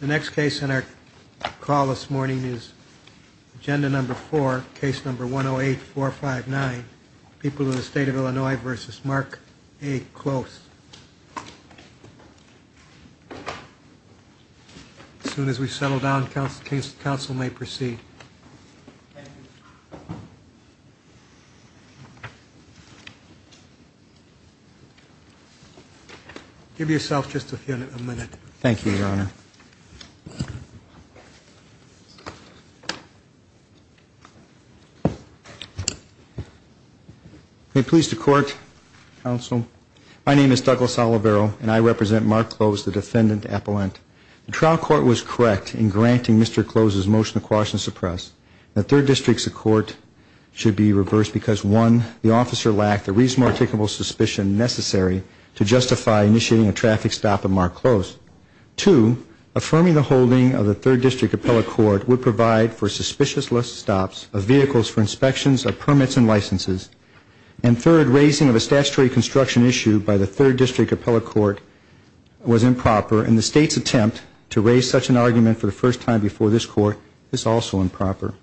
The next case in our call this morning is agenda number four, case number 108459, People in the State of Illinois v. Mark A. Close. As soon as we settle down, counsel may proceed. Give yourself just a minute. Thank you, Your Honor. May it please the court, counsel? My name is Douglas Olivero, and I represent Mark Close, the defendant appellant. The trial court was correct in granting Mr. Close's motion to quash and suppress. The third district's court should be reversed because, one, the officer lacked the reasonable, articulable suspicion necessary to justify initiating a traffic stop at Mark Close. Two, affirming the holding of the third district appellate court would provide for suspicious list stops of vehicles for inspections of permits and licenses. And third, raising of a statutory construction issue by the third district appellate court was improper, and the state's attempt to raise such an argument for the first time before this court is also improper.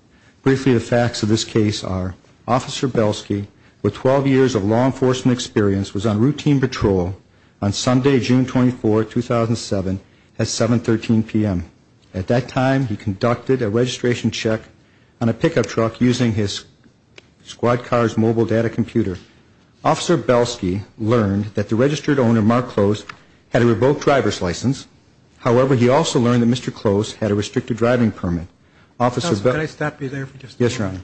Briefly, the facts of this case are, Officer Belsky, with 12 years of law enforcement experience, was on routine patrol on Sunday, June 24, 2007, at 7.13 p.m. At that time, he conducted a registration check on a pickup truck using his squad car's mobile data computer. Officer Belsky learned that the registered owner, Mark Close, had a revoked driver's license. However, he also learned that Mr. Close had a restricted driving permit. Officer Belsky Can I stop you there for just a moment? Yes, Your Honor.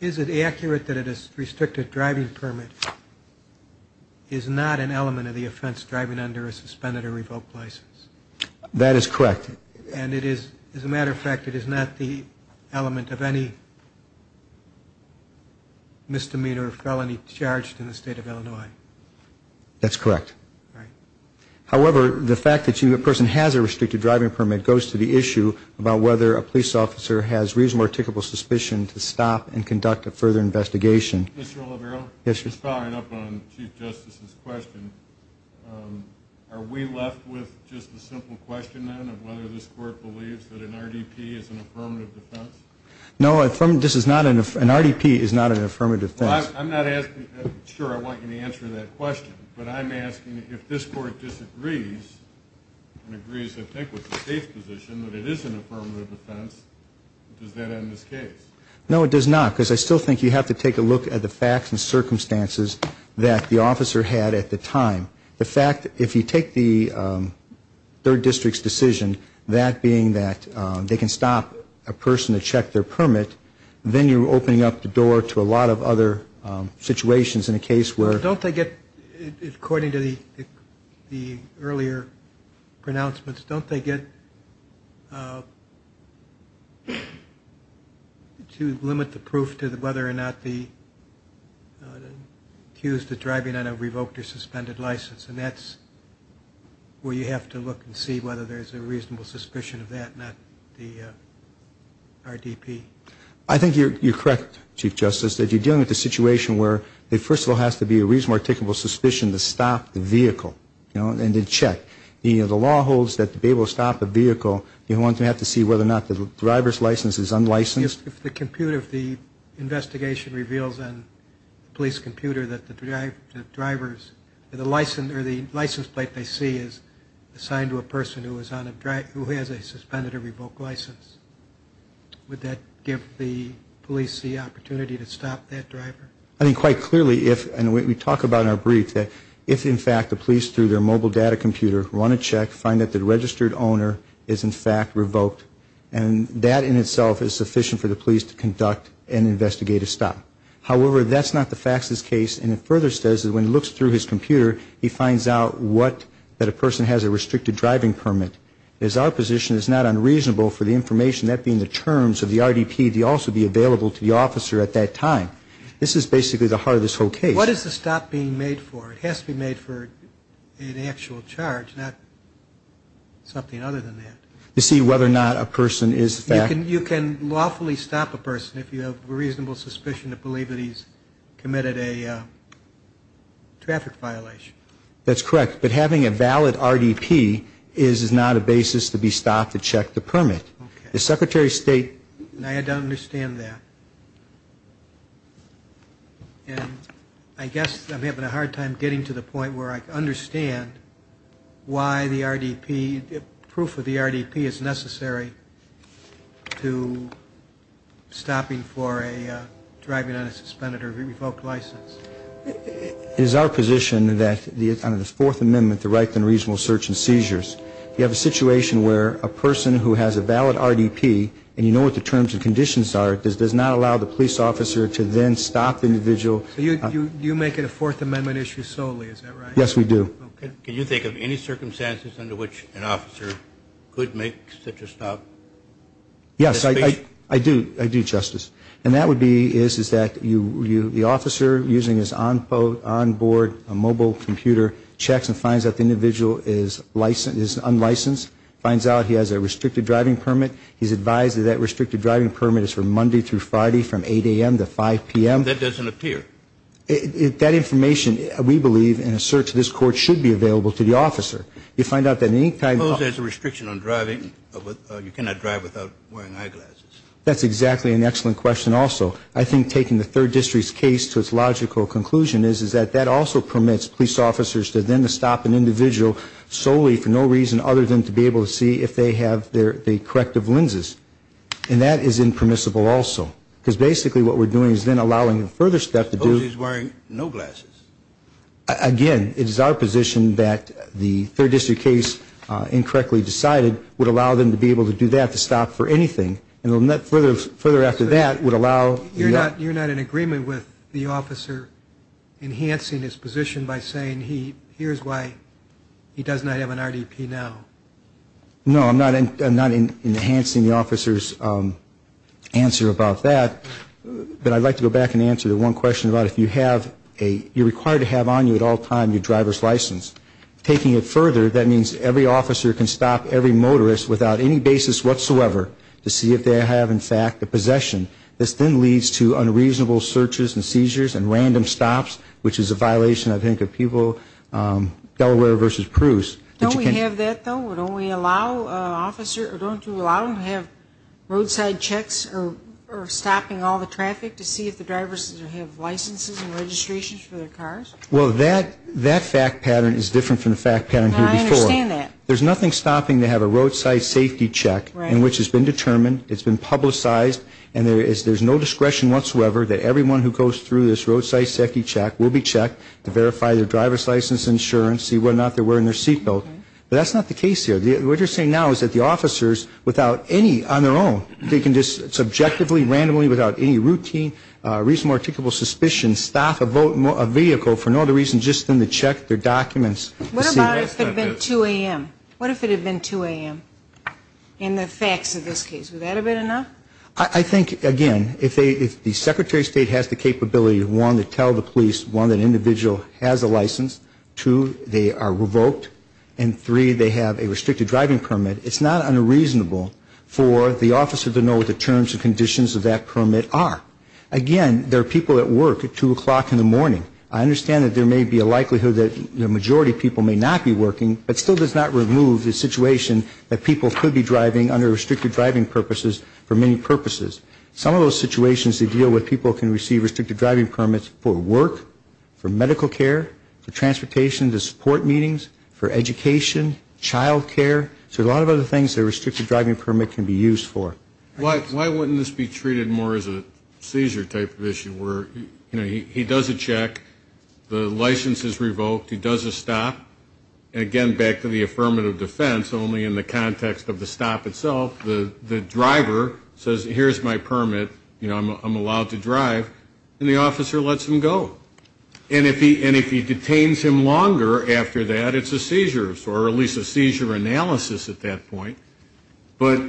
Is it accurate that a restricted driving permit is not an element of the offense driving under a suspended or revoked license? That is correct. And it is, as a matter of fact, it is not the element of any misdemeanor or felony charged in the state of Illinois. That's correct. However, the fact that a person has a restricted driving permit goes to the issue about whether a police officer has reasonable or tickable suspicion to stop and conduct a further investigation. Mr. Oliveiro? Yes, Your Honor. Just following up on Chief Justice's question, are we left with just a simple question then of whether this court believes that an RDP is an affirmative defense? No, an RDP is not an affirmative defense. I'm not sure I want you to answer that question, but I'm asking if this court disagrees and agrees, I think, with the state's position that it is an affirmative defense, does that end this case? No, it does not, because I still think you have to take a look at the facts and circumstances that the officer had at the time. The fact that if you take the 3rd District's decision, that being that they can stop a person to a lot of other situations in a case where... Don't they get, according to the earlier pronouncements, don't they get to limit the proof to whether or not the accused is driving on a revoked or suspended license? And that's where you have to look and see whether there's a reasonable suspicion of that, not the RDP. I think you're correct, Chief Justice, that you're dealing with a situation where there first of all has to be a reasonable, articulable suspicion to stop the vehicle, you know, and to check. The law holds that to be able to stop a vehicle, you're going to have to see whether or not the driver's license is unlicensed. If the computer, if the investigation reveals on the police computer that the driver's, or the license plate they see is assigned to a person who is on a drive, who has a suspended or revoked license, would that give the police the opportunity to stop that driver? I think quite clearly if, and we talk about it in our brief, that if in fact the police through their mobile data computer run a check, find that the registered owner is in fact revoked, and that in itself is sufficient for the police to conduct an investigative stop. However, that's not the facts of this case, and it further says that when it looks through his computer, he finds out what, that a person has a restricted driving permit. It is our position it's not unreasonable for the information, that being the terms of the RDP, to also be available to the officer at that time. This is basically the heart of this whole case. What is the stop being made for? It has to be made for an actual charge, not something other than that. To see whether or not a person is a fact. You can lawfully stop a person if you have a reasonable suspicion to believe that he's committed a traffic violation. That's correct, but having a valid RDP is not a basis to be stopped to check the permit. The Secretary of State... I don't understand that. And I guess I'm having a hard time getting to the point where I can understand why the RDP, proof of the RDP is necessary to stop a person from driving on a suspended or revoked license. It is our position that under the Fourth Amendment, the right to reasonable search and seizures, if you have a situation where a person who has a valid RDP, and you know what the terms and conditions are, it does not allow the police officer to then stop the individual... So you make it a Fourth Amendment issue solely, is that right? Yes, we do. Can you think of any circumstances under which an officer could make such a stop? Yes, I do. I do, Justice. And that would be is that the officer, using his onboard mobile computer, checks and finds out the individual is unlicensed, finds out he has a restricted driving permit. He's advised that that restricted driving permit is for Monday through Friday from 8 a.m. to 5 p.m. That doesn't appear. That information, we believe, in a search of this Court, should be available to the officer. You find out at any time... Suppose there's a restriction on driving. You cannot drive without wearing eyeglasses. That's exactly an excellent question also. I think taking the Third District's case to its logical conclusion is that that also permits police officers to then stop an individual solely for no reason other than to be able to see if they have their corrective lenses. And that is impermissible also. Because basically what we're doing is then allowing a further step to do... Suppose he's wearing no glasses. Again, it is our position that the Third District case incorrectly decided would allow them to be able to do that, to stop for anything. And then further after that would allow... You're not in agreement with the officer enhancing his position by saying here's why he does not have an RDP now? No, I'm not enhancing the officer's answer about that. But I'd like to go back and answer the one question about if you have a... You're required to have on you at all times your license. If you're making it further, that means every officer can stop every motorist without any basis whatsoever to see if they have, in fact, a possession. This then leads to unreasonable searches and seizures and random stops, which is a violation, I think, of people... Delaware versus Pruess. Don't we have that, though? Don't we allow officers... Don't we allow them to have roadside checks or stopping all the traffic to see if the drivers have licenses and registrations for their cars? Well, that fact pattern is different from the fact pattern here before. I understand that. There's nothing stopping to have a roadside safety check in which it's been determined, it's been publicized, and there's no discretion whatsoever that everyone who goes through this roadside safety check will be checked to verify their driver's license, insurance, see whether or not they're wearing their seatbelt. But that's not the case here. What you're saying now is that the officers, without any on their own, they can just subjectively, randomly, without any routine, reasonable, articulable suspicion, stop a vehicle for no other reason than just to check their documents. What if it had been 2 a.m.? What if it had been 2 a.m. in the facts of this case? Would that have been enough? I think, again, if the Secretary of State has the capability, one, to tell the police, one, that an individual has a license, two, they are revoked, and three, they have a restricted driving permit, it's not unreasonable for the officer to know the terms and conditions of that permit are. Again, there are people at work at 2 o'clock in the morning. I understand that there may be a likelihood that the majority of people may not be working, but it still does not remove the situation that people could be driving under restricted driving purposes for many purposes. Some of those situations they deal with, people can receive restricted driving permits for work, for medical care, for transportation, to support meetings, for education, child care, there's a lot of other things that a restricted driving permit can be used for. Why wouldn't this be treated more as a seizure type of issue where, you know, he does a check, the license is revoked, he does a stop, and again, back to the affirmative defense, only in the context of the stop itself, the driver says, here's my permit, you know, I'm allowed to drive, and the officer lets him go. And if he detains him longer after that, it's a seizure, or at least a seizure analysis at that point. But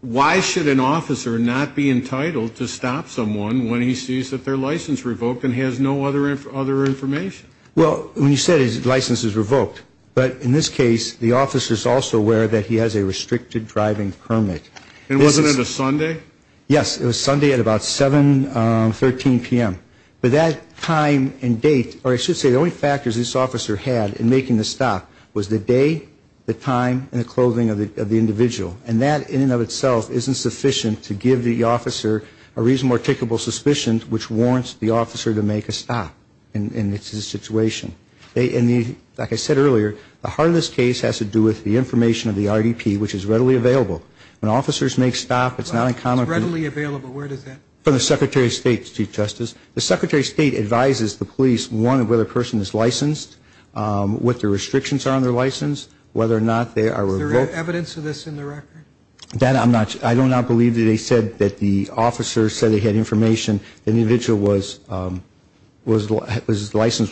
why should an officer not be entitled to stop someone when he sees that their license revoked and has no other information? Well, when you said his license is revoked, but in this case, the officer is also aware that he has a restricted driving permit. And wasn't it a Sunday? Yes, it was Sunday at about 7, 13 p.m. But that time and date, or I should say, the only factors this officer had in making the stop was the day, the time, and the clothing of the individual. And that, in and of itself, isn't sufficient to give the officer a reasonable articulable suspicion, which warrants the officer to make a stop in this situation. And like I said earlier, the heart of this case has to do with the information of the RDP, which is readily available. When officers make stops, it's not uncommon for... It's readily available. Where does that come from? From the Secretary of State, Chief Justice. The Secretary of State advises the police on whether a person is licensed, what the restrictions are on their license, whether or not they are revoked. Is there evidence of this in the record? That I'm not sure. I do not believe that they said that the officer said they had information that the individual's license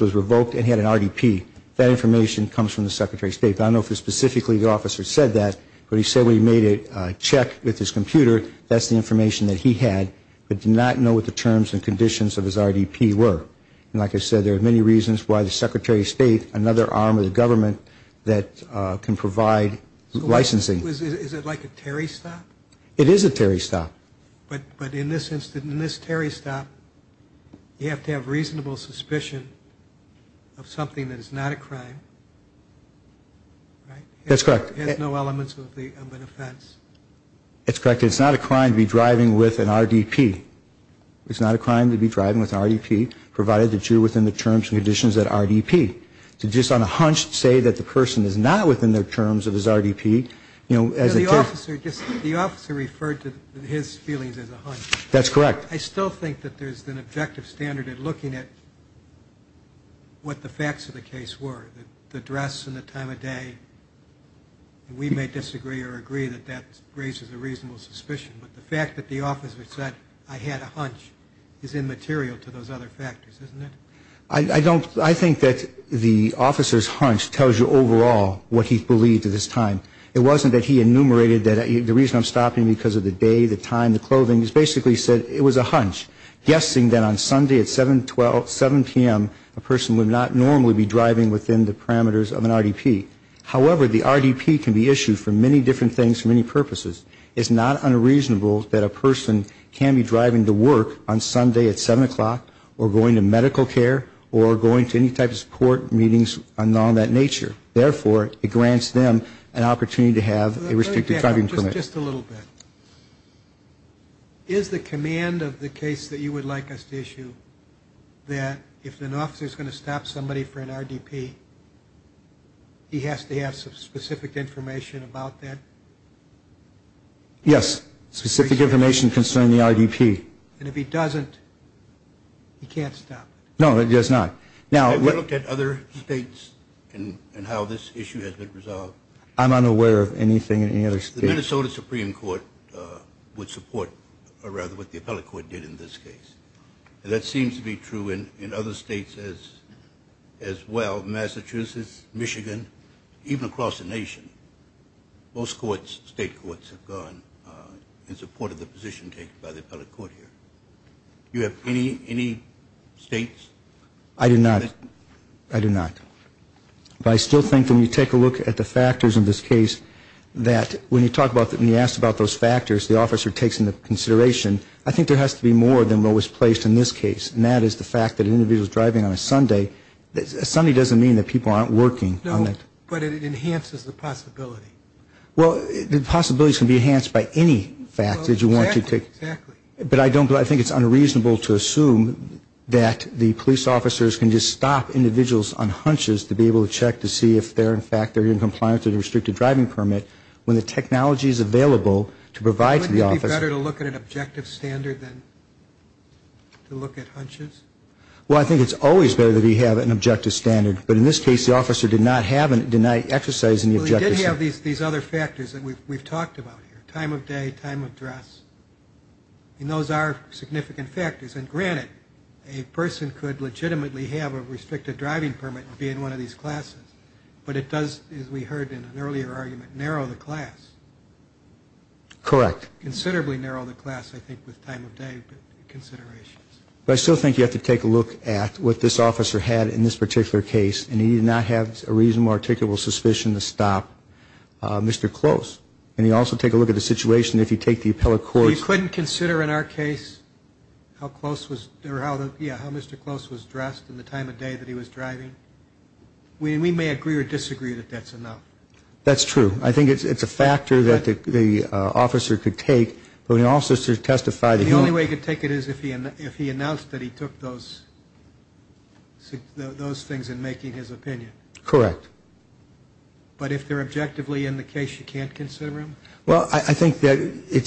was revoked and he had an RDP. That information comes from the Secretary of State. But I don't know if specifically the officer said that, but he said when he made a check with his computer, that's the information that he had, but did not know what the terms and conditions of his RDP were. And like I said, there are many reasons why the Secretary of State, another arm of the government, that can provide licensing. Is it like a Terry stop? It is a Terry stop. But in this instance, in this Terry stop, you have to have reasonable suspicion of something that is not a crime. That's correct. It has no elements of an offense. That's correct. It's not a crime to be driving with an RDP. It's not a crime to be driving with an RDP, provided that you're within the terms and conditions of that RDP. To just on a hunch say that the person is not within the terms of his RDP, you know, as a Terry stop. The officer referred to his feelings as a hunch. That's correct. I still think that there's an objective standard in looking at what the facts of the case were, the dress and the time of day. We may disagree or agree that that raises a reasonable suspicion. But the fact that the officer said, I had a hunch, is immaterial to those other factors, isn't it? I don't, I think that the officer's hunch tells you overall what he believed at this time. It wasn't that he enumerated that the reason I'm stopping because of the day, the time, the clothing. He basically said it was a hunch, guessing that on Sunday at 7 p.m. a person would not normally be driving within the parameters of an RDP. However, the RDP can be issued for many different things for many purposes. It's not unreasonable that a person can be driving to work on Sunday at 7 o'clock or going to medical care or going to any type of support meetings and all that nature. Therefore, it grants them an opportunity to have a restricted driving permit. Just a little bit. Is the command of the case that you would like us to issue that if an officer's going to stop somebody for an RDP, he has to have some specific information about that? Yes. Specific information concerning the RDP. And if he doesn't, he can't stop it? No, he does not. Have you looked at other states and how this issue has been resolved? I'm unaware of anything in any other state. The Minnesota Supreme Court would support, or rather what the appellate court did in this case. And that seems to be true in other states as well. Massachusetts, Michigan, even across the nation. Most courts, state courts, have gone in support of the position taken by the appellate court here. Do you have any states? I do not. I do not. But I still think when you take a look at the factors in this case, that when you talk about, when you ask about those factors, the officer takes into consideration, I think there has to be more than what was placed in this case. And that is the fact that an individual is driving on a Sunday. A Sunday doesn't mean that people aren't working on that. No, but it enhances the possibility. Well, the possibilities can be enhanced by any fact that you want to take. Exactly. But I don't, I think it's unreasonable to assume that the police officers can just stop individuals on hunches to be able to check to see if they're in fact, they're in compliance with a restricted driving permit when the technology is available to provide to the officer. Is it better to look at an objective standard than to look at hunches? Well, I think it's always better that we have an objective standard. But in this case, the officer did not have, did not exercise any objective standard. Well, he did have these other factors that we've talked about here. Time of day, time of dress. And those are significant factors. And granted, a person could legitimately have a restricted driving permit and be in one of these classes. But it does, as we heard in an earlier argument, narrow the class. Correct. Considerably narrow the class, I think, with time of day considerations. But I still think you have to take a look at what this officer had in this particular case. And he did not have a reasonable, articulable suspicion to stop Mr. Close. And you also take a look at the situation if you take the appellate courts. You couldn't consider in our case how close was, or how, yeah, how Mr. Close was dressed in the time of day that he was driving? We may agree or disagree that that's enough. That's true. I think it's a factor that the officer could take. But we can also testify that he... The only way you could take it is if he announced that he took those things in making his opinion. Correct. But if they're objectively in the case, you can't consider them? Well, I think that,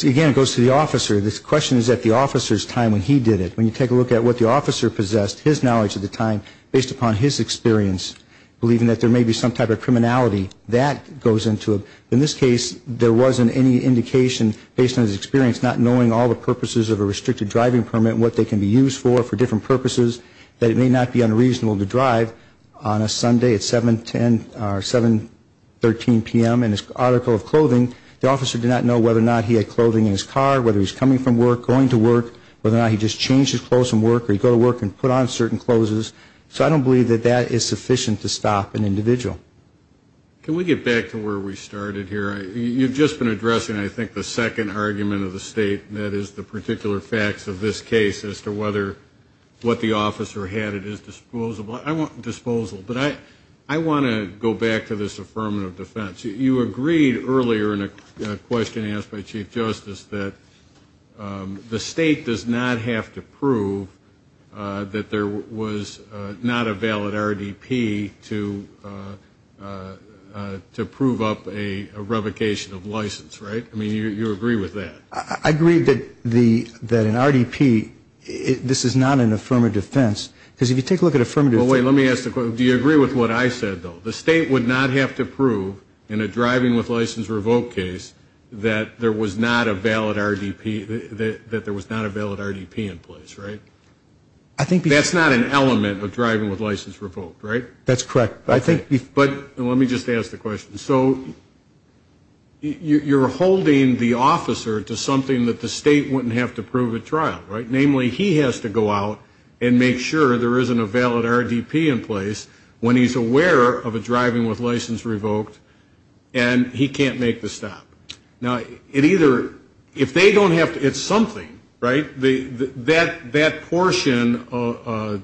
again, it goes to the officer. The question is at the officer's time when he did it. When you take a look at what the officer possessed, his knowledge at the time, based upon his experience, believing that there may be some type of criminality that goes into it. In this case, there wasn't any indication, based on his experience, not knowing all the purposes of a restricted driving permit, what they can be used for, for different purposes, that it may not be unreasonable to drive on a Sunday at 7.10 or 7.13 p.m. in his article of clothing. The officer did not know whether or not he had clothing in his car, whether he was coming from work, going to work, whether or not he just changed his clothes from work, or he'd go to work and put on certain clothes. So I don't believe that that is sufficient to stop an individual. Can we get back to where we started here? You've just been addressing, I think, the second argument of the state, and that is the particular facts of this case, as to whether what the officer had at his disposal. But I want to go back to this affirmative defense. You agreed earlier in a question asked by Chief Justice that the state does not have to prove that there was not a valid RDP to prove up a revocation of license, right? I mean, you agree with that. I agree that an RDP, this is not an affirmative defense, because if you take a look at affirmative defense. Well, wait, let me ask the question. Do you agree with what I said, though? The state would not have to prove, in a driving with license revoked case, that there was not a valid RDP in place, right? That's not an element of driving with license revoked, right? That's correct. But let me just ask the question. So you're holding the officer to something that the state wouldn't have to prove at trial, right? Namely, he has to go out and make sure there isn't a valid RDP in place when he's aware of a driving with license revoked and he can't make the stop. Now, it either, if they don't have to, it's something, right? That portion, the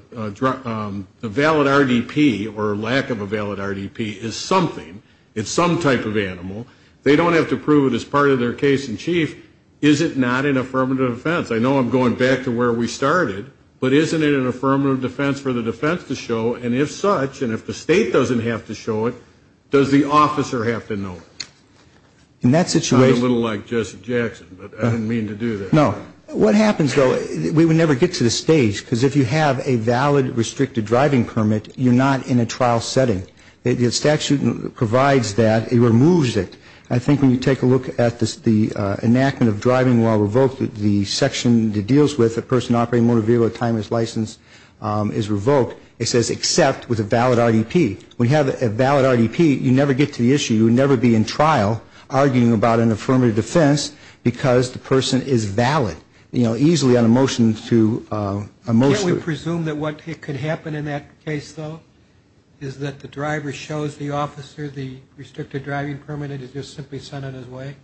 valid RDP or lack of a valid RDP is something. It's some type of animal. They don't have to prove it as part of their case in chief. Is it not an affirmative defense? I know I'm going back to where we started, but isn't it an affirmative defense for the defense to show? And if such, and if the state doesn't have to show it, does the officer have to know it? In that situation. I'm a little like Jesse Jackson, but I didn't mean to do that. No. What happens, though, we would never get to the stage, because if you have a valid restricted driving permit, you're not in a trial setting. The statute provides that. It removes it. I think when you take a look at the enactment of driving while revoked, the section that deals with a person operating a motor vehicle at the time his license is revoked, it says except with a valid RDP. When you have a valid RDP, you never get to the issue. You would never be in trial arguing about an affirmative defense because the person is valid. You know, easily on a motion to a motion. Can't we presume that what could happen in that case, though, is that the driver shows the officer the restricted driving permit and is just simply sent on his way?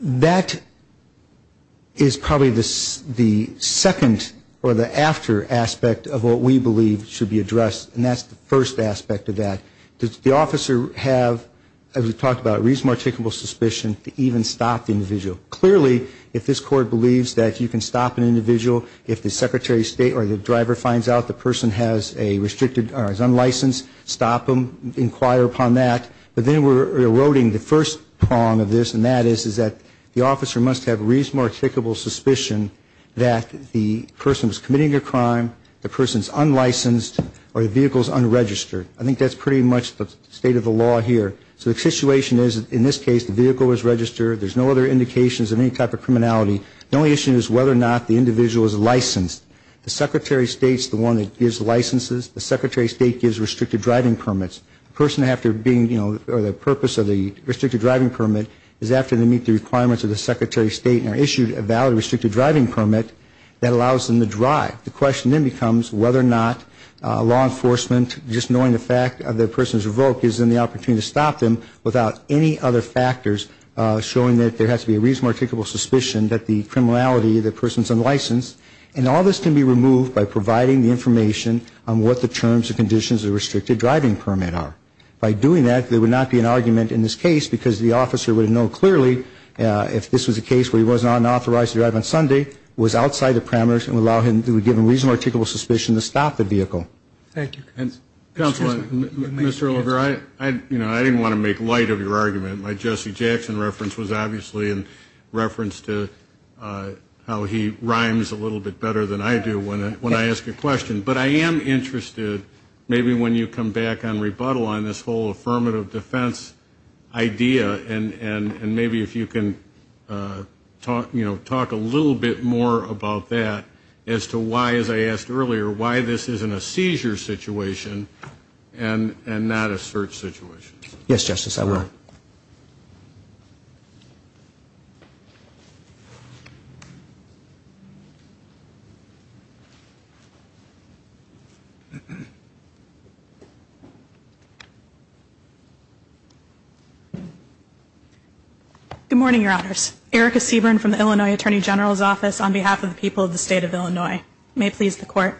That is probably the second or the after aspect of what we believe should be addressed, and that's the first aspect of that. Does the officer have, as we've talked about, reasonable, articulable suspicion to even stop the individual? Clearly, if this court believes that you can stop an individual, if the secretary of state or the driver finds out the person has a restricted or is unlicensed, stop them, inquire upon that. But then we're eroding the first prong of this, and that is that the officer must have reasonable, articulable suspicion that the person's committing a crime, the person's unlicensed, or the vehicle's unregistered. I think that's pretty much the state of the law here. So the situation is, in this case, the vehicle was registered. There's no other indications of any type of criminality. The only issue is whether or not the individual is licensed. The secretary of state's the one that gives licenses. The secretary of state gives restricted driving permits. The person after being, you know, or the purpose of the restricted driving permit is after they meet the requirements of the secretary of state and are issued a valid restricted driving permit that allows them to drive. The question then becomes whether or not law enforcement, just knowing the fact that the person's revoked, gives them the opportunity to stop them without any other factors showing that there has to be a reasonable, articulable suspicion that the criminality of the person's unlicensed. And all this can be removed by providing the information on what the terms and conditions of the restricted driving permit are. By doing that, there would not be an argument in this case, because the officer would know clearly if this was a case where he wasn't unauthorized to drive on Sunday, was outside the parameters, and would allow him to be given reasonable, articulable suspicion to stop the vehicle. Thank you. Counselor, Mr. Oliver, I didn't want to make light of your argument. My Jesse Jackson reference was obviously in reference to how he rhymes a little bit better than I do when I ask a question. But I am interested maybe when you come back on rebuttal on this whole affirmative defense idea, and maybe if you can talk a little bit more about that as to why, as I asked earlier, why this isn't a seizure situation and not a search situation. Yes, Justice, I will. Go ahead. Good morning, Your Honors. Erica Seaborn from the Illinois Attorney General's Office on behalf of the people of the State of Illinois. May it please the Court.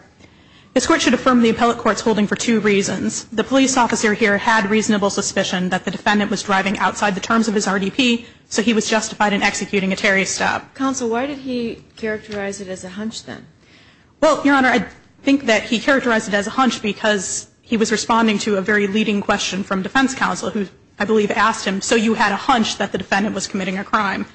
This Court should affirm the appellate court's holding for two reasons. The police officer here had reasonable suspicion that the defendant was driving outside the terms of his RDP, so he was justified in executing a Terry stop. Counsel, why did he characterize it as a hunch then? Well, Your Honor, I think that he characterized it as a hunch because he was responding to a very leading question from defense counsel, who I believe asked him, so you had a hunch that the defendant was committing a crime.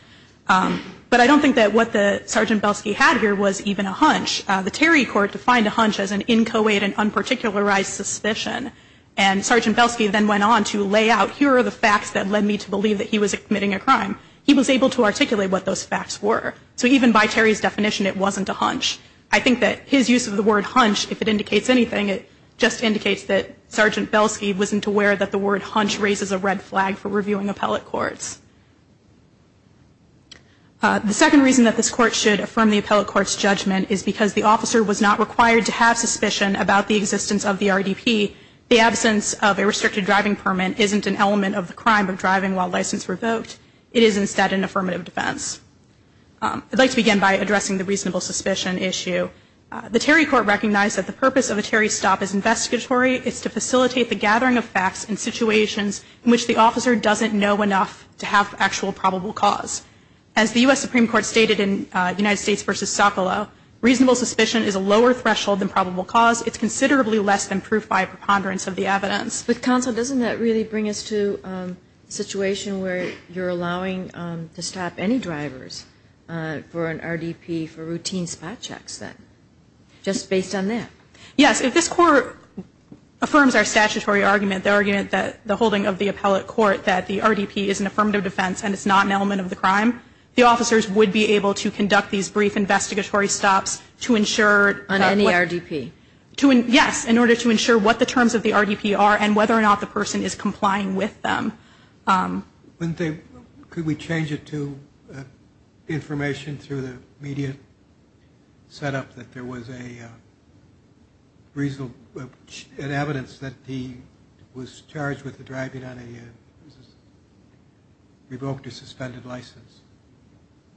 But I don't think that what the Sergeant Belsky had here was even a hunch. The Terry court defined a hunch as an inchoate and unparticularized suspicion. And Sergeant Belsky then went on to lay out, here are the facts that led me to believe that he was committing a crime. He was able to articulate what those facts were. So even by Terry's definition, it wasn't a hunch. I think that his use of the word hunch, if it indicates anything, it just indicates that Sergeant Belsky wasn't aware that the word hunch raises a red flag for reviewing appellate courts. The second reason that this Court should affirm the appellate court's judgment is because the officer was not required to have suspicion about the existence of the RDP. The absence of a restricted driving permit isn't an element of the crime of driving while license revoked. It is instead an affirmative defense. I'd like to begin by addressing the reasonable suspicion issue. The Terry court recognized that the purpose of a Terry stop is investigatory. It's to facilitate the gathering of facts in situations in which the officer doesn't know enough to have actual probable cause. As the U.S. Supreme Court stated in United States v. Socolow, reasonable suspicion is a lower threshold than probable cause. It's considerably less than proof by a preponderance of the evidence. But Counsel, doesn't that really bring us to a situation where you're allowing to stop any drivers for an RDP for routine spot checks then? Just based on that? Yes. If this Court affirms our statutory argument, the argument that the holding of the appellate court that the RDP is an affirmative defense and it's not an element of the crime, the officers would be able to conduct these brief investigatory stops to ensure On any RDP? Yes, in order to ensure what the terms of the RDP are and whether or not the person is complying with them. Could we change it to information through the media set up that there was a reasonable evidence that he was charged with driving on a revoked or suspended license?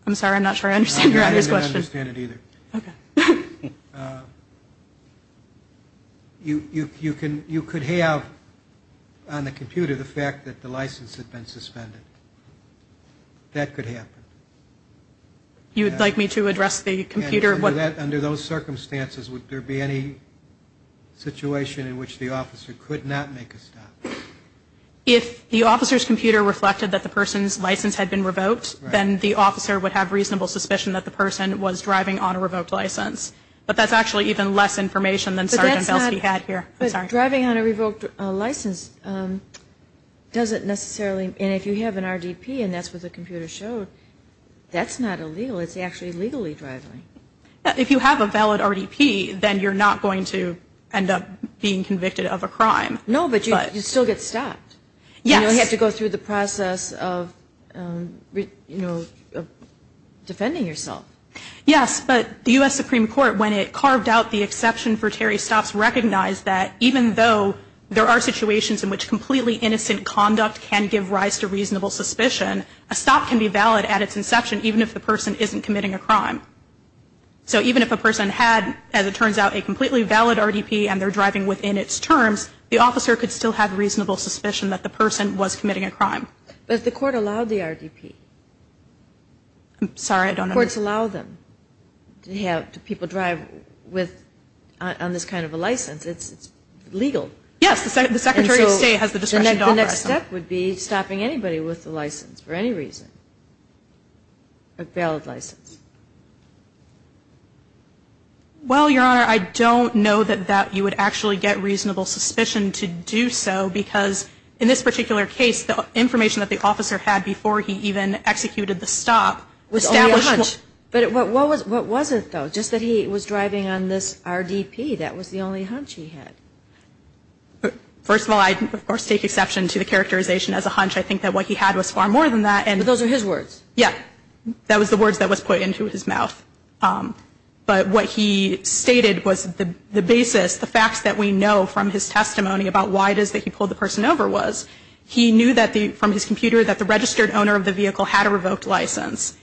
I'm sorry, I'm not sure I understand your other question. I didn't understand it either. You could have on the computer the fact that the license had been suspended. That could happen. You would like me to address the computer? Under those circumstances, would there be any situation in which the officer could not make a stop? If the officer's computer reflected that the person's license had been revoked, then the officer would have reasonable suspicion that the person was driving on a revoked license. But that's actually even less information than Sgt. Felski had here. Driving on a revoked license doesn't necessarily, and if you have an RDP and that's what the computer showed, that's not illegal, it's actually legally driving. If you have a valid RDP, then you're not going to end up being convicted of a crime. No, but you'd still get stopped. Yes. You'd have to go through the process of defending yourself. Yes, but the U.S. Supreme Court, when it carved out the exception for Terry stops, recognized that even though there are situations in which completely innocent conduct can give rise to reasonable suspicion, a stop can be valid at its inception even if the person isn't committing a crime. So even if a person had, as it turns out, a completely valid RDP and they're driving within its terms, the officer could still have reasonable suspicion that the person was committing a crime. But the court allowed the RDP. I'm sorry, I don't understand. Courts allow them to have people drive on this kind of a license. It's legal. Yes, the Secretary of State has the discretion to offer that. The next step would be stopping anybody with a license for any reason, a bailed license. Well, Your Honor, I don't know that you would actually get reasonable suspicion to do so because in this particular case, the information that the officer had before he even executed the stop was only a hunch. But what was it, though? Just that he was driving on this RDP, that was the only hunch he had. First of all, I, of course, take exception to the characterization as a hunch. I think that what he had was far more than that. But those are his words. Yeah. That was the words that was put into his mouth. But what he stated was the basis, the facts that we know from his testimony about why it is that he pulled the person over was, he knew from his computer that the registered owner of the vehicle had a revoked license.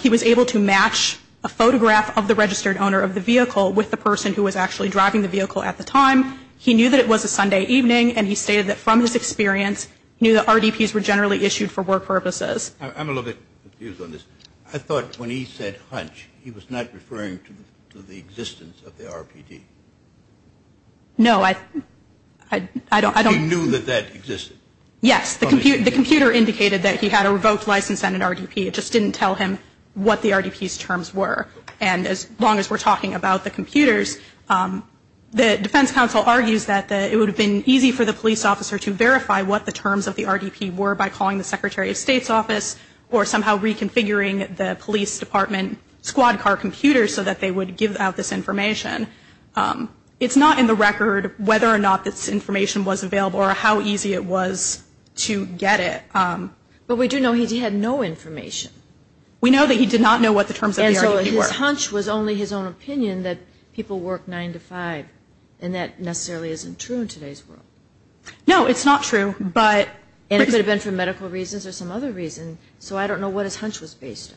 He was able to match a photograph of the registered owner of the vehicle with the person who was actually driving the vehicle at the time. He knew that it was a Sunday evening, and he stated that from his experience, he knew that RDPs were generally issued for work purposes. I'm a little bit confused on this. I thought when he said hunch, he was not referring to the existence of the RPD. No, I don't. He knew that that existed. Yes. The computer indicated that he had a revoked license and an RDP. It just didn't tell him what the RDP's terms were. And as long as we're talking about the computers, the defense counsel argues that it would have been easy for the police officer to verify what the terms of the RDP were by calling the secretary of state's office or somehow reconfiguring the police department squad car computer so that they would give out this information. It's not in the record whether or not this information was available or how easy it was to get it. But we do know he had no information. We know that he did not know what the terms of the RDP were. But his hunch was only his own opinion that people work 9 to 5. And that necessarily isn't true in today's world. No, it's not true. And it could have been for medical reasons or some other reason. So I don't know what his hunch was based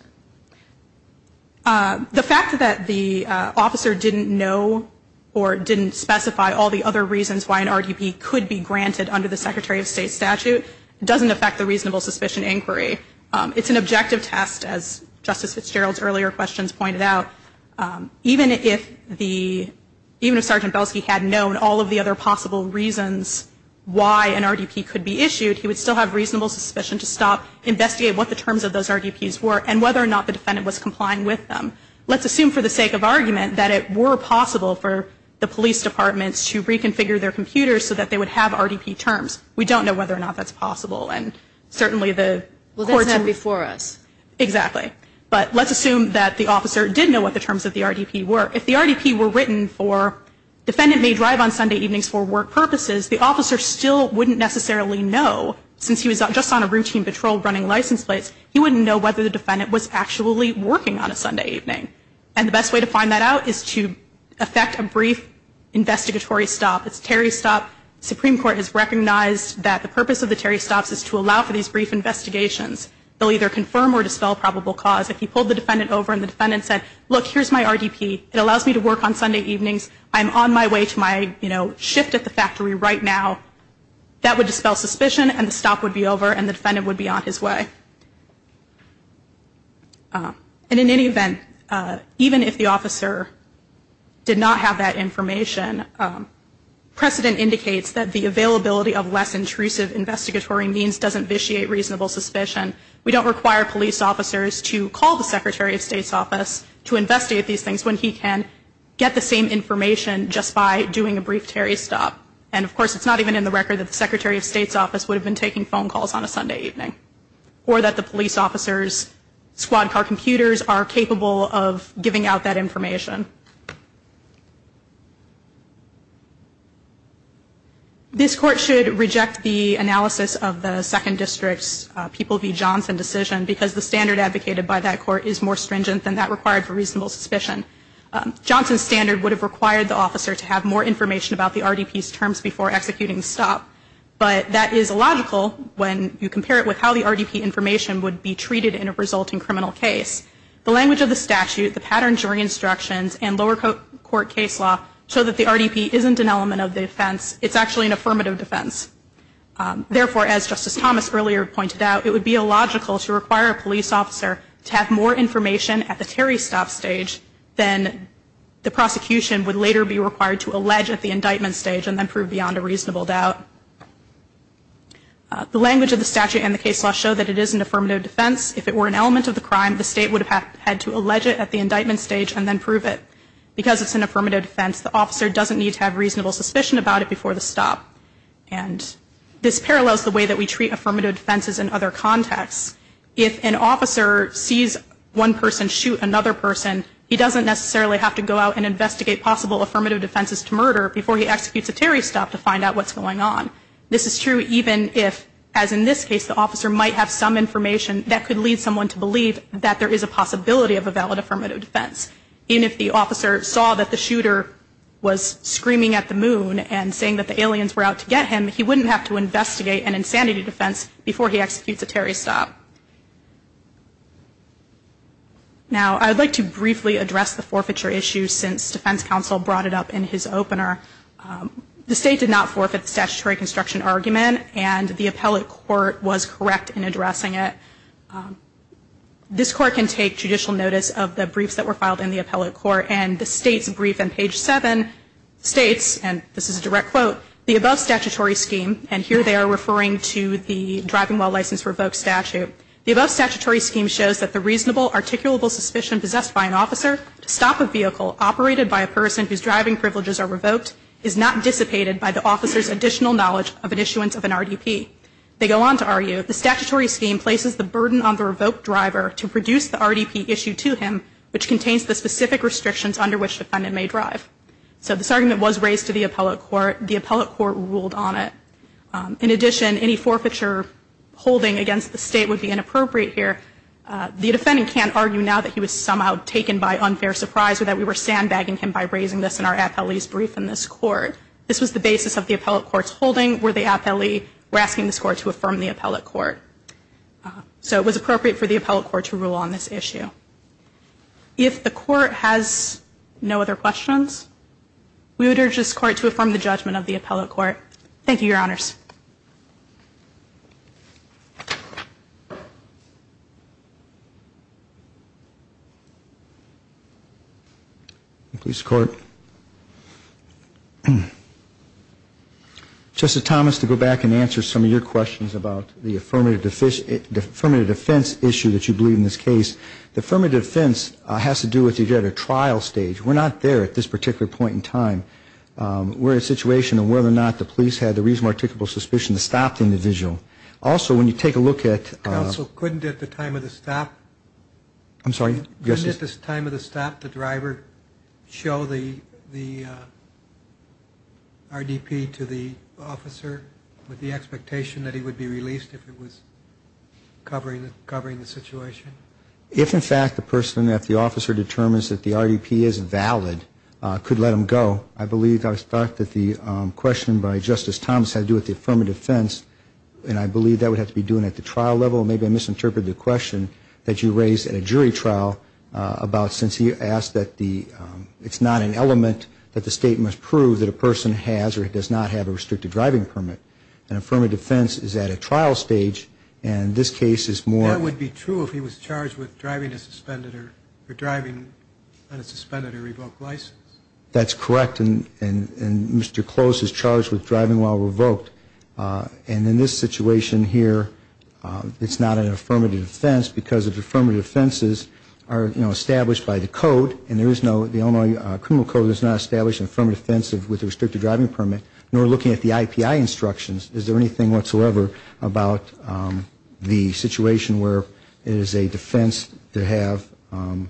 on. The fact that the officer didn't know or didn't specify all the other reasons why an RDP could be granted under the secretary of state statute doesn't affect the reasonable suspicion inquiry. It's an objective test as Justice Fitzgerald's earlier questions pointed out. Even if the, even if Sergeant Belsky had known all of the other possible reasons why an RDP could be issued, he would still have reasonable suspicion to stop, investigate what the terms of those RDPs were and whether or not the defendant was complying with them. Let's assume for the sake of argument that it were possible for the police departments to reconfigure their computers so that they would have RDP terms. We don't know whether or not that's possible. And certainly the courts. Well, that's not before us. Exactly. But let's assume that the officer did know what the terms of the RDP were. If the RDP were written for defendant may drive on Sunday evenings for work purposes, the officer still wouldn't necessarily know since he was just on a routine patrol running license plates. He wouldn't know whether the defendant was actually working on a Sunday evening. And the best way to find that out is to affect a brief investigatory stop. It's Terry stop. Supreme Court has recognized that the purpose of the Terry stops is to allow for these brief investigations. They'll either confirm or dispel probable cause. If he pulled the defendant over and the defendant said, look, here's my RDP. It allows me to work on Sunday evenings. I'm on my way to my, you know, shift at the factory right now. That would dispel suspicion and the stop would be over and the defendant would be on his way. Uh, and in any event, uh, even if the officer did not have that information, um, precedent indicates that the availability of less intrusive investigatory means doesn't vitiate reasonable suspicion. We don't require police officers to call the secretary of state's office to investigate these things when he can get the same information just by doing a brief Terry stop. And of course, it's not even in the record that the secretary of state's office would have been taking phone calls on a Sunday evening or that the police officers squad car computers are capable of giving out that information. This court should reject the analysis of the second district's, uh, People v. Johnson decision because the standard advocated by that court is more stringent than that required for reasonable suspicion. Um, Johnson's standard would have required the officer to have more information about the RDP's terms before executing the stop. But that is illogical when you compare it with how the RDP information would be treated in a resulting criminal case. The language of the statute, the pattern during instructions, and lower court court case law show that the RDP isn't an element of the offense. It's actually an affirmative defense. Um, therefore, as Justice Thomas earlier pointed out, it would be illogical to require a police officer to have more information at the Terry stop stage than the prosecution would later be required to allege at the indictment stage and then prove beyond a reasonable doubt. Uh, the language of the statute and the case law show that it is an affirmative defense. If it were an element of the crime, the state would have had to allege it at the indictment stage and then prove it. Because it's an affirmative defense, the officer doesn't need to have reasonable suspicion about it before the stop. And this parallels the way that we treat affirmative defenses in other contexts. If an officer sees one person shoot another person, he doesn't necessarily have to go out and investigate possible affirmative defenses to murder before he executes a Terry stop to find out what's going on. This is true even if, as in this case, the officer might have some information that could lead someone to believe that there is a possibility of a valid affirmative defense. Even if the officer saw that the shooter was screaming at the moon and saying that the aliens were out to get him, he wouldn't have to investigate an insanity defense before he executes a Terry stop. Now, I would like to briefly address the forfeiture issue since defense counsel brought it up in his opener. Um, the state did not forfeit the statutory construction argument and the appellate court was correct in addressing it. Um, this court can take judicial notice of the briefs that were filed in the appellate court. And the state's brief on page seven states, and this is a direct quote, the above statutory scheme. And here they are referring to the driving while license revoked statute. The above statutory scheme shows that the reasonable articulable suspicion possessed by an officer to stop a vehicle operated by a person whose driving privileges are revoked is not dissipated by the officer's additional knowledge of an issuance of an RDP. They go on to argue the statutory scheme places the burden on the revoked driver to produce the RDP issue to him, which contains the specific restrictions under which defendant may drive. So this argument was raised to the appellate court. The appellate court ruled on it. Um, in addition, any forfeiture holding against the state would be inappropriate here. Uh, the defendant can't argue now that he was somehow taken by unfair surprise or that we were sandbagging him by raising this in our appellate's brief in this court. This was the basis of the appellate court's holding where the appellee were asking the score to affirm the appellate court. Uh, so it was appropriate for the appellate court to rule on this issue. If the court has no other questions, we would urge this court to affirm the judgment of the appellate court. Thank you. Your honors. Police court. Justice Thomas, to go back and answer some of your questions about the affirmative defense issue that you believe in this case, the affirmative defense has to do with the trial stage. We're not there at this particular point in time. Um, we're in a situation of whether or not the police had the reasonable when you take a look at the trial, you have to look at the evidence. Um, let's take a look at also couldn't at the time of the stop, I'm sorry. Yes. At this time of the stop, the driver show the, the, uh, RDP to the officer with the expectation that he would be released if it was covering the, covering the situation. If in fact the person that the officer determines that the RDP is valid, uh, could let them go. I believe I was thought that the, um, question by justice Thomas had to do with the affirmative defense. And I believe that would have to be doing at the trial level. Maybe I misinterpreted the question that you raised at a jury trial, uh, about since he asked that the, um, it's not an element that the state must prove that a person has, or it does not have a restricted driving permit. And affirmative defense is at a trial stage. And this case is more, it would be true if he was charged with driving a suspended or driving on a suspended or revoked license. That's correct. And, and, and Mr. Close is charged with driving while revoked. Uh, and in this situation here, uh, it's not an affirmative defense because of the affirmative defenses are, you know, established by the code. And there is no, the Illinois criminal code has not established an affirmative defense with a restricted driving permit, nor looking at the IPI instructions. Is there anything whatsoever about, um, the situation where it is a defense to have, um,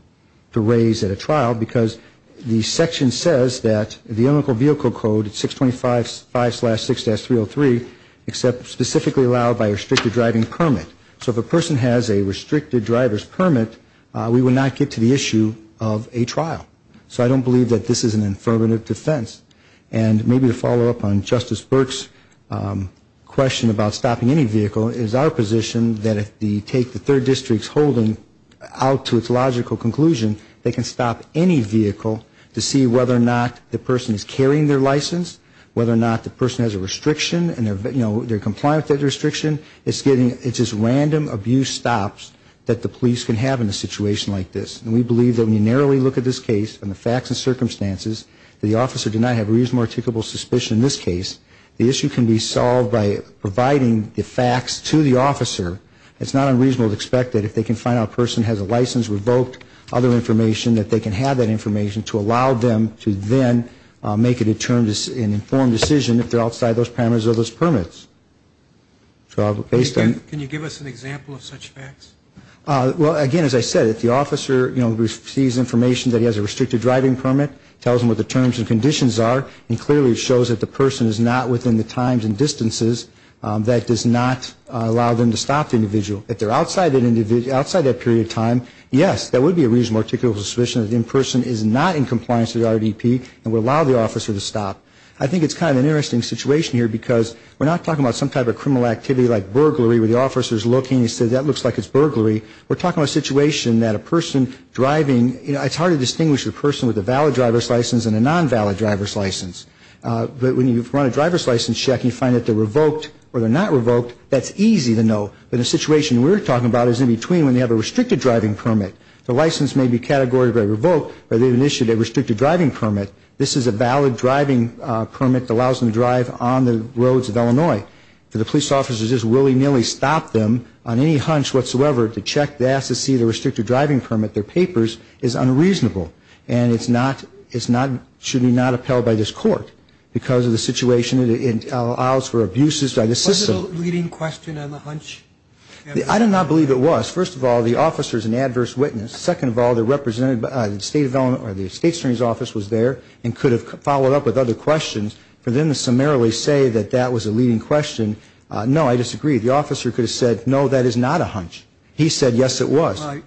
to raise at a trial? Because the section says that the illegal vehicle code at 625-5-6-303, except specifically allowed by a restricted driving permit. So if a person has a restricted driver's permit, uh, we would not get to the issue of a trial. So I don't believe that this is an affirmative defense. And maybe to follow up on Justice Burke's, um, question about stopping any vehicle, is our position that if the, take the third district's holding out to its logical conclusion, they can stop any vehicle to see whether or not the person is carrying their license, whether or not the person has a restriction and they're, you know, they're compliant with that restriction. It's getting, it's just random abuse stops that the police can have in a situation like this. And we believe that when you narrowly look at this case and the facts and circumstances, the officer did not have reasonable articulable suspicion in this case. The issue can be solved by providing the facts to the officer. It's not unreasonable to expect that if they can find out a person has a license, revoked other information, that they can have that information to allow them to then make a determined, an informed decision if they're outside those parameters of those permits. So based on. Can you give us an example of such facts? Uh, well again, as I said, if the officer, you know, receives information that he has a restricted driving permit, tells him what the terms and conditions are, and clearly it shows that the person is not within the times and distances, um, that does not allow them to stop the individual. If they're outside that individual, outside that period of time, yes, that would be a reasonable articulable suspicion that the in-person is not in compliance with RDP and would allow the officer to stop. I think it's kind of an interesting situation here because we're not talking about some type of criminal activity like burglary where the officer's looking and says, that looks like it's burglary. We're talking about a situation that a person driving, you know, it's hard to distinguish a person with a valid driver's license and a non-valid driver's license. Uh, but when you run a driver's license check and you find that they're revoked or they're not revoked, that's easy to know. But the situation we're talking about is in between when they have a restricted driving permit. The license may be categorized by revoke or they've initiated a restricted driving permit. This is a valid driving, uh, permit that allows them to drive on the roads of Illinois. For the police officers to just willy-nilly stop them on any hunch whatsoever to check, to ask to see the restricted driving permit, their papers, is unreasonable. And it's not, it's not, should be not upheld by this court because of the situation it, it allows for abuses by the system. Is that still a leading question on the hunch? I do not believe it was. First of all, the officer's an adverse witness. Second of all, the representative, uh, the state development or the state attorney's office was there and could have followed up with other questions for them to summarily say that that was a leading question. Uh, no, I disagree. The officer could have said, no, that is not a hunch. He said, yes, it was. I'm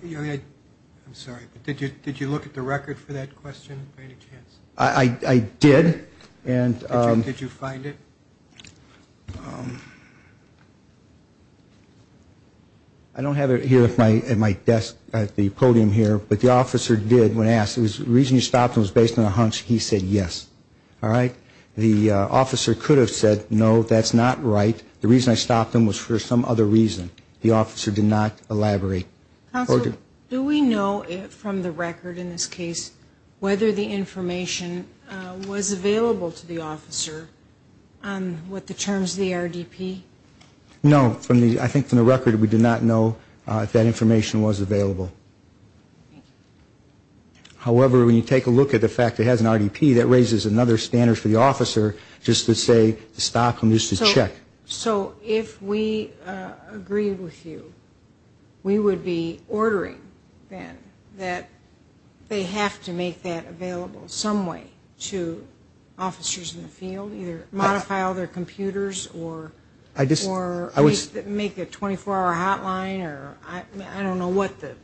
sorry, but did you, did you look at the record for that question by any chance? I, I, I did. And, um, did you find it? Um, I don't have it here at my, at my desk, at the podium here, but the officer did, when asked, the reason you stopped him was based on a hunch. He said, yes. All right. The, uh, officer could have said, no, that's not right. The reason I stopped him was for some other reason. The officer did not elaborate. Counselor, do we know if from the record in this case, whether the information, uh, was available to the officer, um, with the terms of the RDP? No. From the, I think from the record, we did not know, uh, if that information was available. Okay. However, when you take a look at the fact that it has an RDP, that raises another standard for the officer, just to say, to stop him, just to check. So, so, if we, uh, agree with you, we would be ordering, then, that they have to make that available, some way, to officers in the field, either modify all their computers, or, or, make a 24-hour hotline, or, I, I don't know what the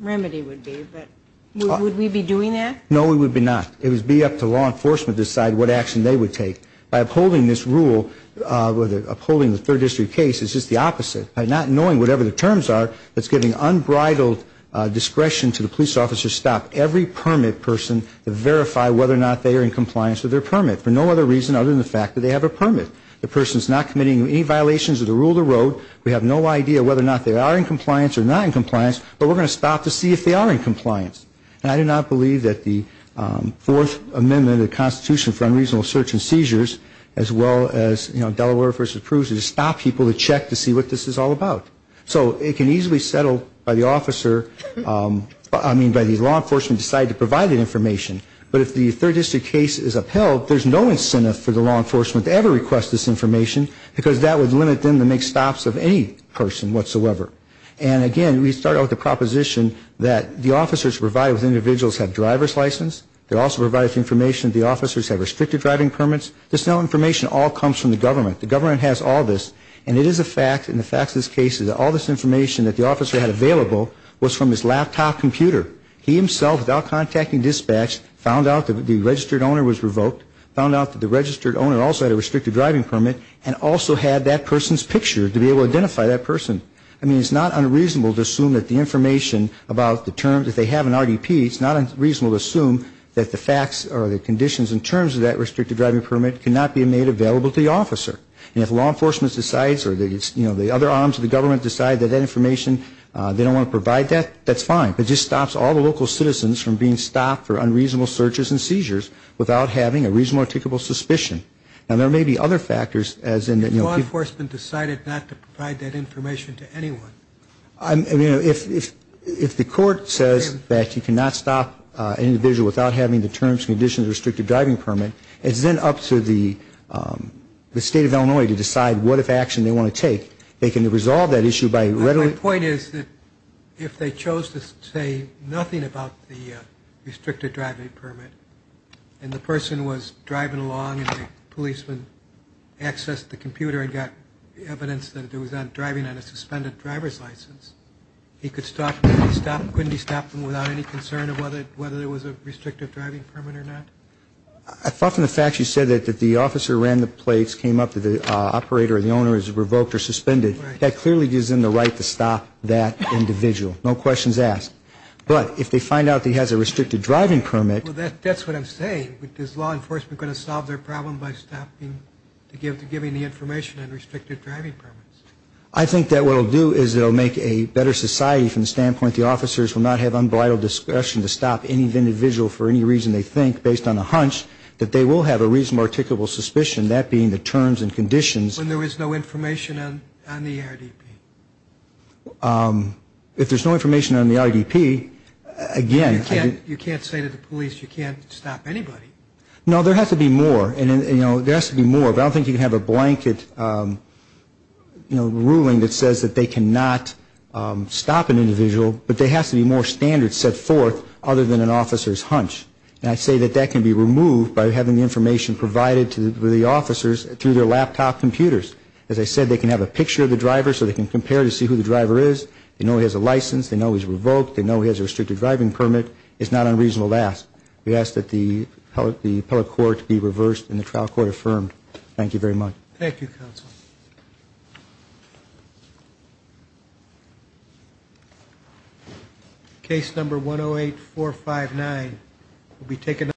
remedy would be, but, would we be doing that? No, we would be not. It would be up to law enforcement to decide what action they would take. By upholding this rule, uh, with, upholding the third district case, it's just the opposite. By not knowing whatever the terms are, it's giving unbridled, uh, discretion to the police officer to stop every permit person, to verify whether or not they are in compliance with their permit, for no other reason other than the fact that they have a permit. The person's not committing any violations of the rule of the road. We have no idea whether or not they are in compliance, or not in compliance, but we're going to stop to see if they are in compliance. And I do not believe that the, um, Fourth Amendment of the Constitution for Unreasonable Search and Seizures, as well as, you know, Delaware v. Peruzza, to stop people to check to see what this is all about. So, it can easily settle by the officer, um, I mean, by the law enforcement deciding to provide that information. But if the third district case is upheld, there's no incentive for the law enforcement to ever request this information, because that would limit them to make stops of any person whatsoever. And, again, we start out with the proposition that the officers provided with individuals have driver's license. They're also provided information that the officers have restricted driving permits. This information all comes from the government. The government has all this, and it is a fact, and the fact of this case is that all this information that the officer had available, was from his laptop computer. He, himself, without contacting dispatch, found out that the registered owner was revoked, found out that the registered owner also had a restricted driving permit, and also had that person's picture to be able to identify that person. I mean, it's not unreasonable to assume that the information about the terms, if they have an RDP, it's not unreasonable to assume that the facts or the conditions in terms of that restricted driving permit cannot be made available to the officer. And if law enforcement decides, or the, you know, the other arms of the government decide that that information, they don't want to provide that, that's fine. It just stops all the local citizens from being stopped for unreasonable searches and seizures, without having a reasonable, articulable suspicion. Now, there may be other factors, as in that, you know. If law enforcement decided not to provide that information to anyone. I mean, if, if the court says that you cannot stop an individual without having the terms, conditions, restricted driving permit, it's then up to the, the state of Illinois to decide what, if action they want to take, they can resolve that issue by readily. My point is that, if they chose to say nothing about the restricted driving permit, and the person was driving along, and the policeman accessed the computer and got evidence that there was not driving on a suspended driver's license, he could stop, he could stop, couldn't he stop them without any concern of whether, whether there was a restrictive driving permit or not? I thought from the fact you said that, that the officer ran the plates, came up to the operator, and the owner is revoked or suspended. Right. That clearly gives them the right to stop that individual. No questions asked. But, if they find out that he has a restricted driving permit. Well, that's what I'm saying. Is law enforcement going to solve their problem by stopping, giving the information on restricted driving permits? I think that what it will do is it will make a better society from the standpoint the officers will not have unbridled discretion to stop any individual for any reason they think, based on a hunch, that they will have a reasonable articulable suspicion, that being the terms and conditions. When there is no information on, on the RDP? If there's no information on the RDP, again. You can't, you can't say to the police, you can't stop anybody. No, there has to be more. And, you know, there has to be more. I don't think you can have a blanket, you know, ruling that says that they cannot stop an individual, but there has to be more standards set forth other than an officer's hunch. And I say that that can be removed by having the information provided to the officers through their laptop computers. As I said, they can have a picture of the driver so they can compare to see who the driver is. They know he has a license. They know he's revoked. They know he has a restricted driving permit. It's not unreasonable to ask. We ask that the, the appellate court be reversed and the trial court affirmed. Thank you very much. Thank you, counsel. Case number 108459 will be taken up.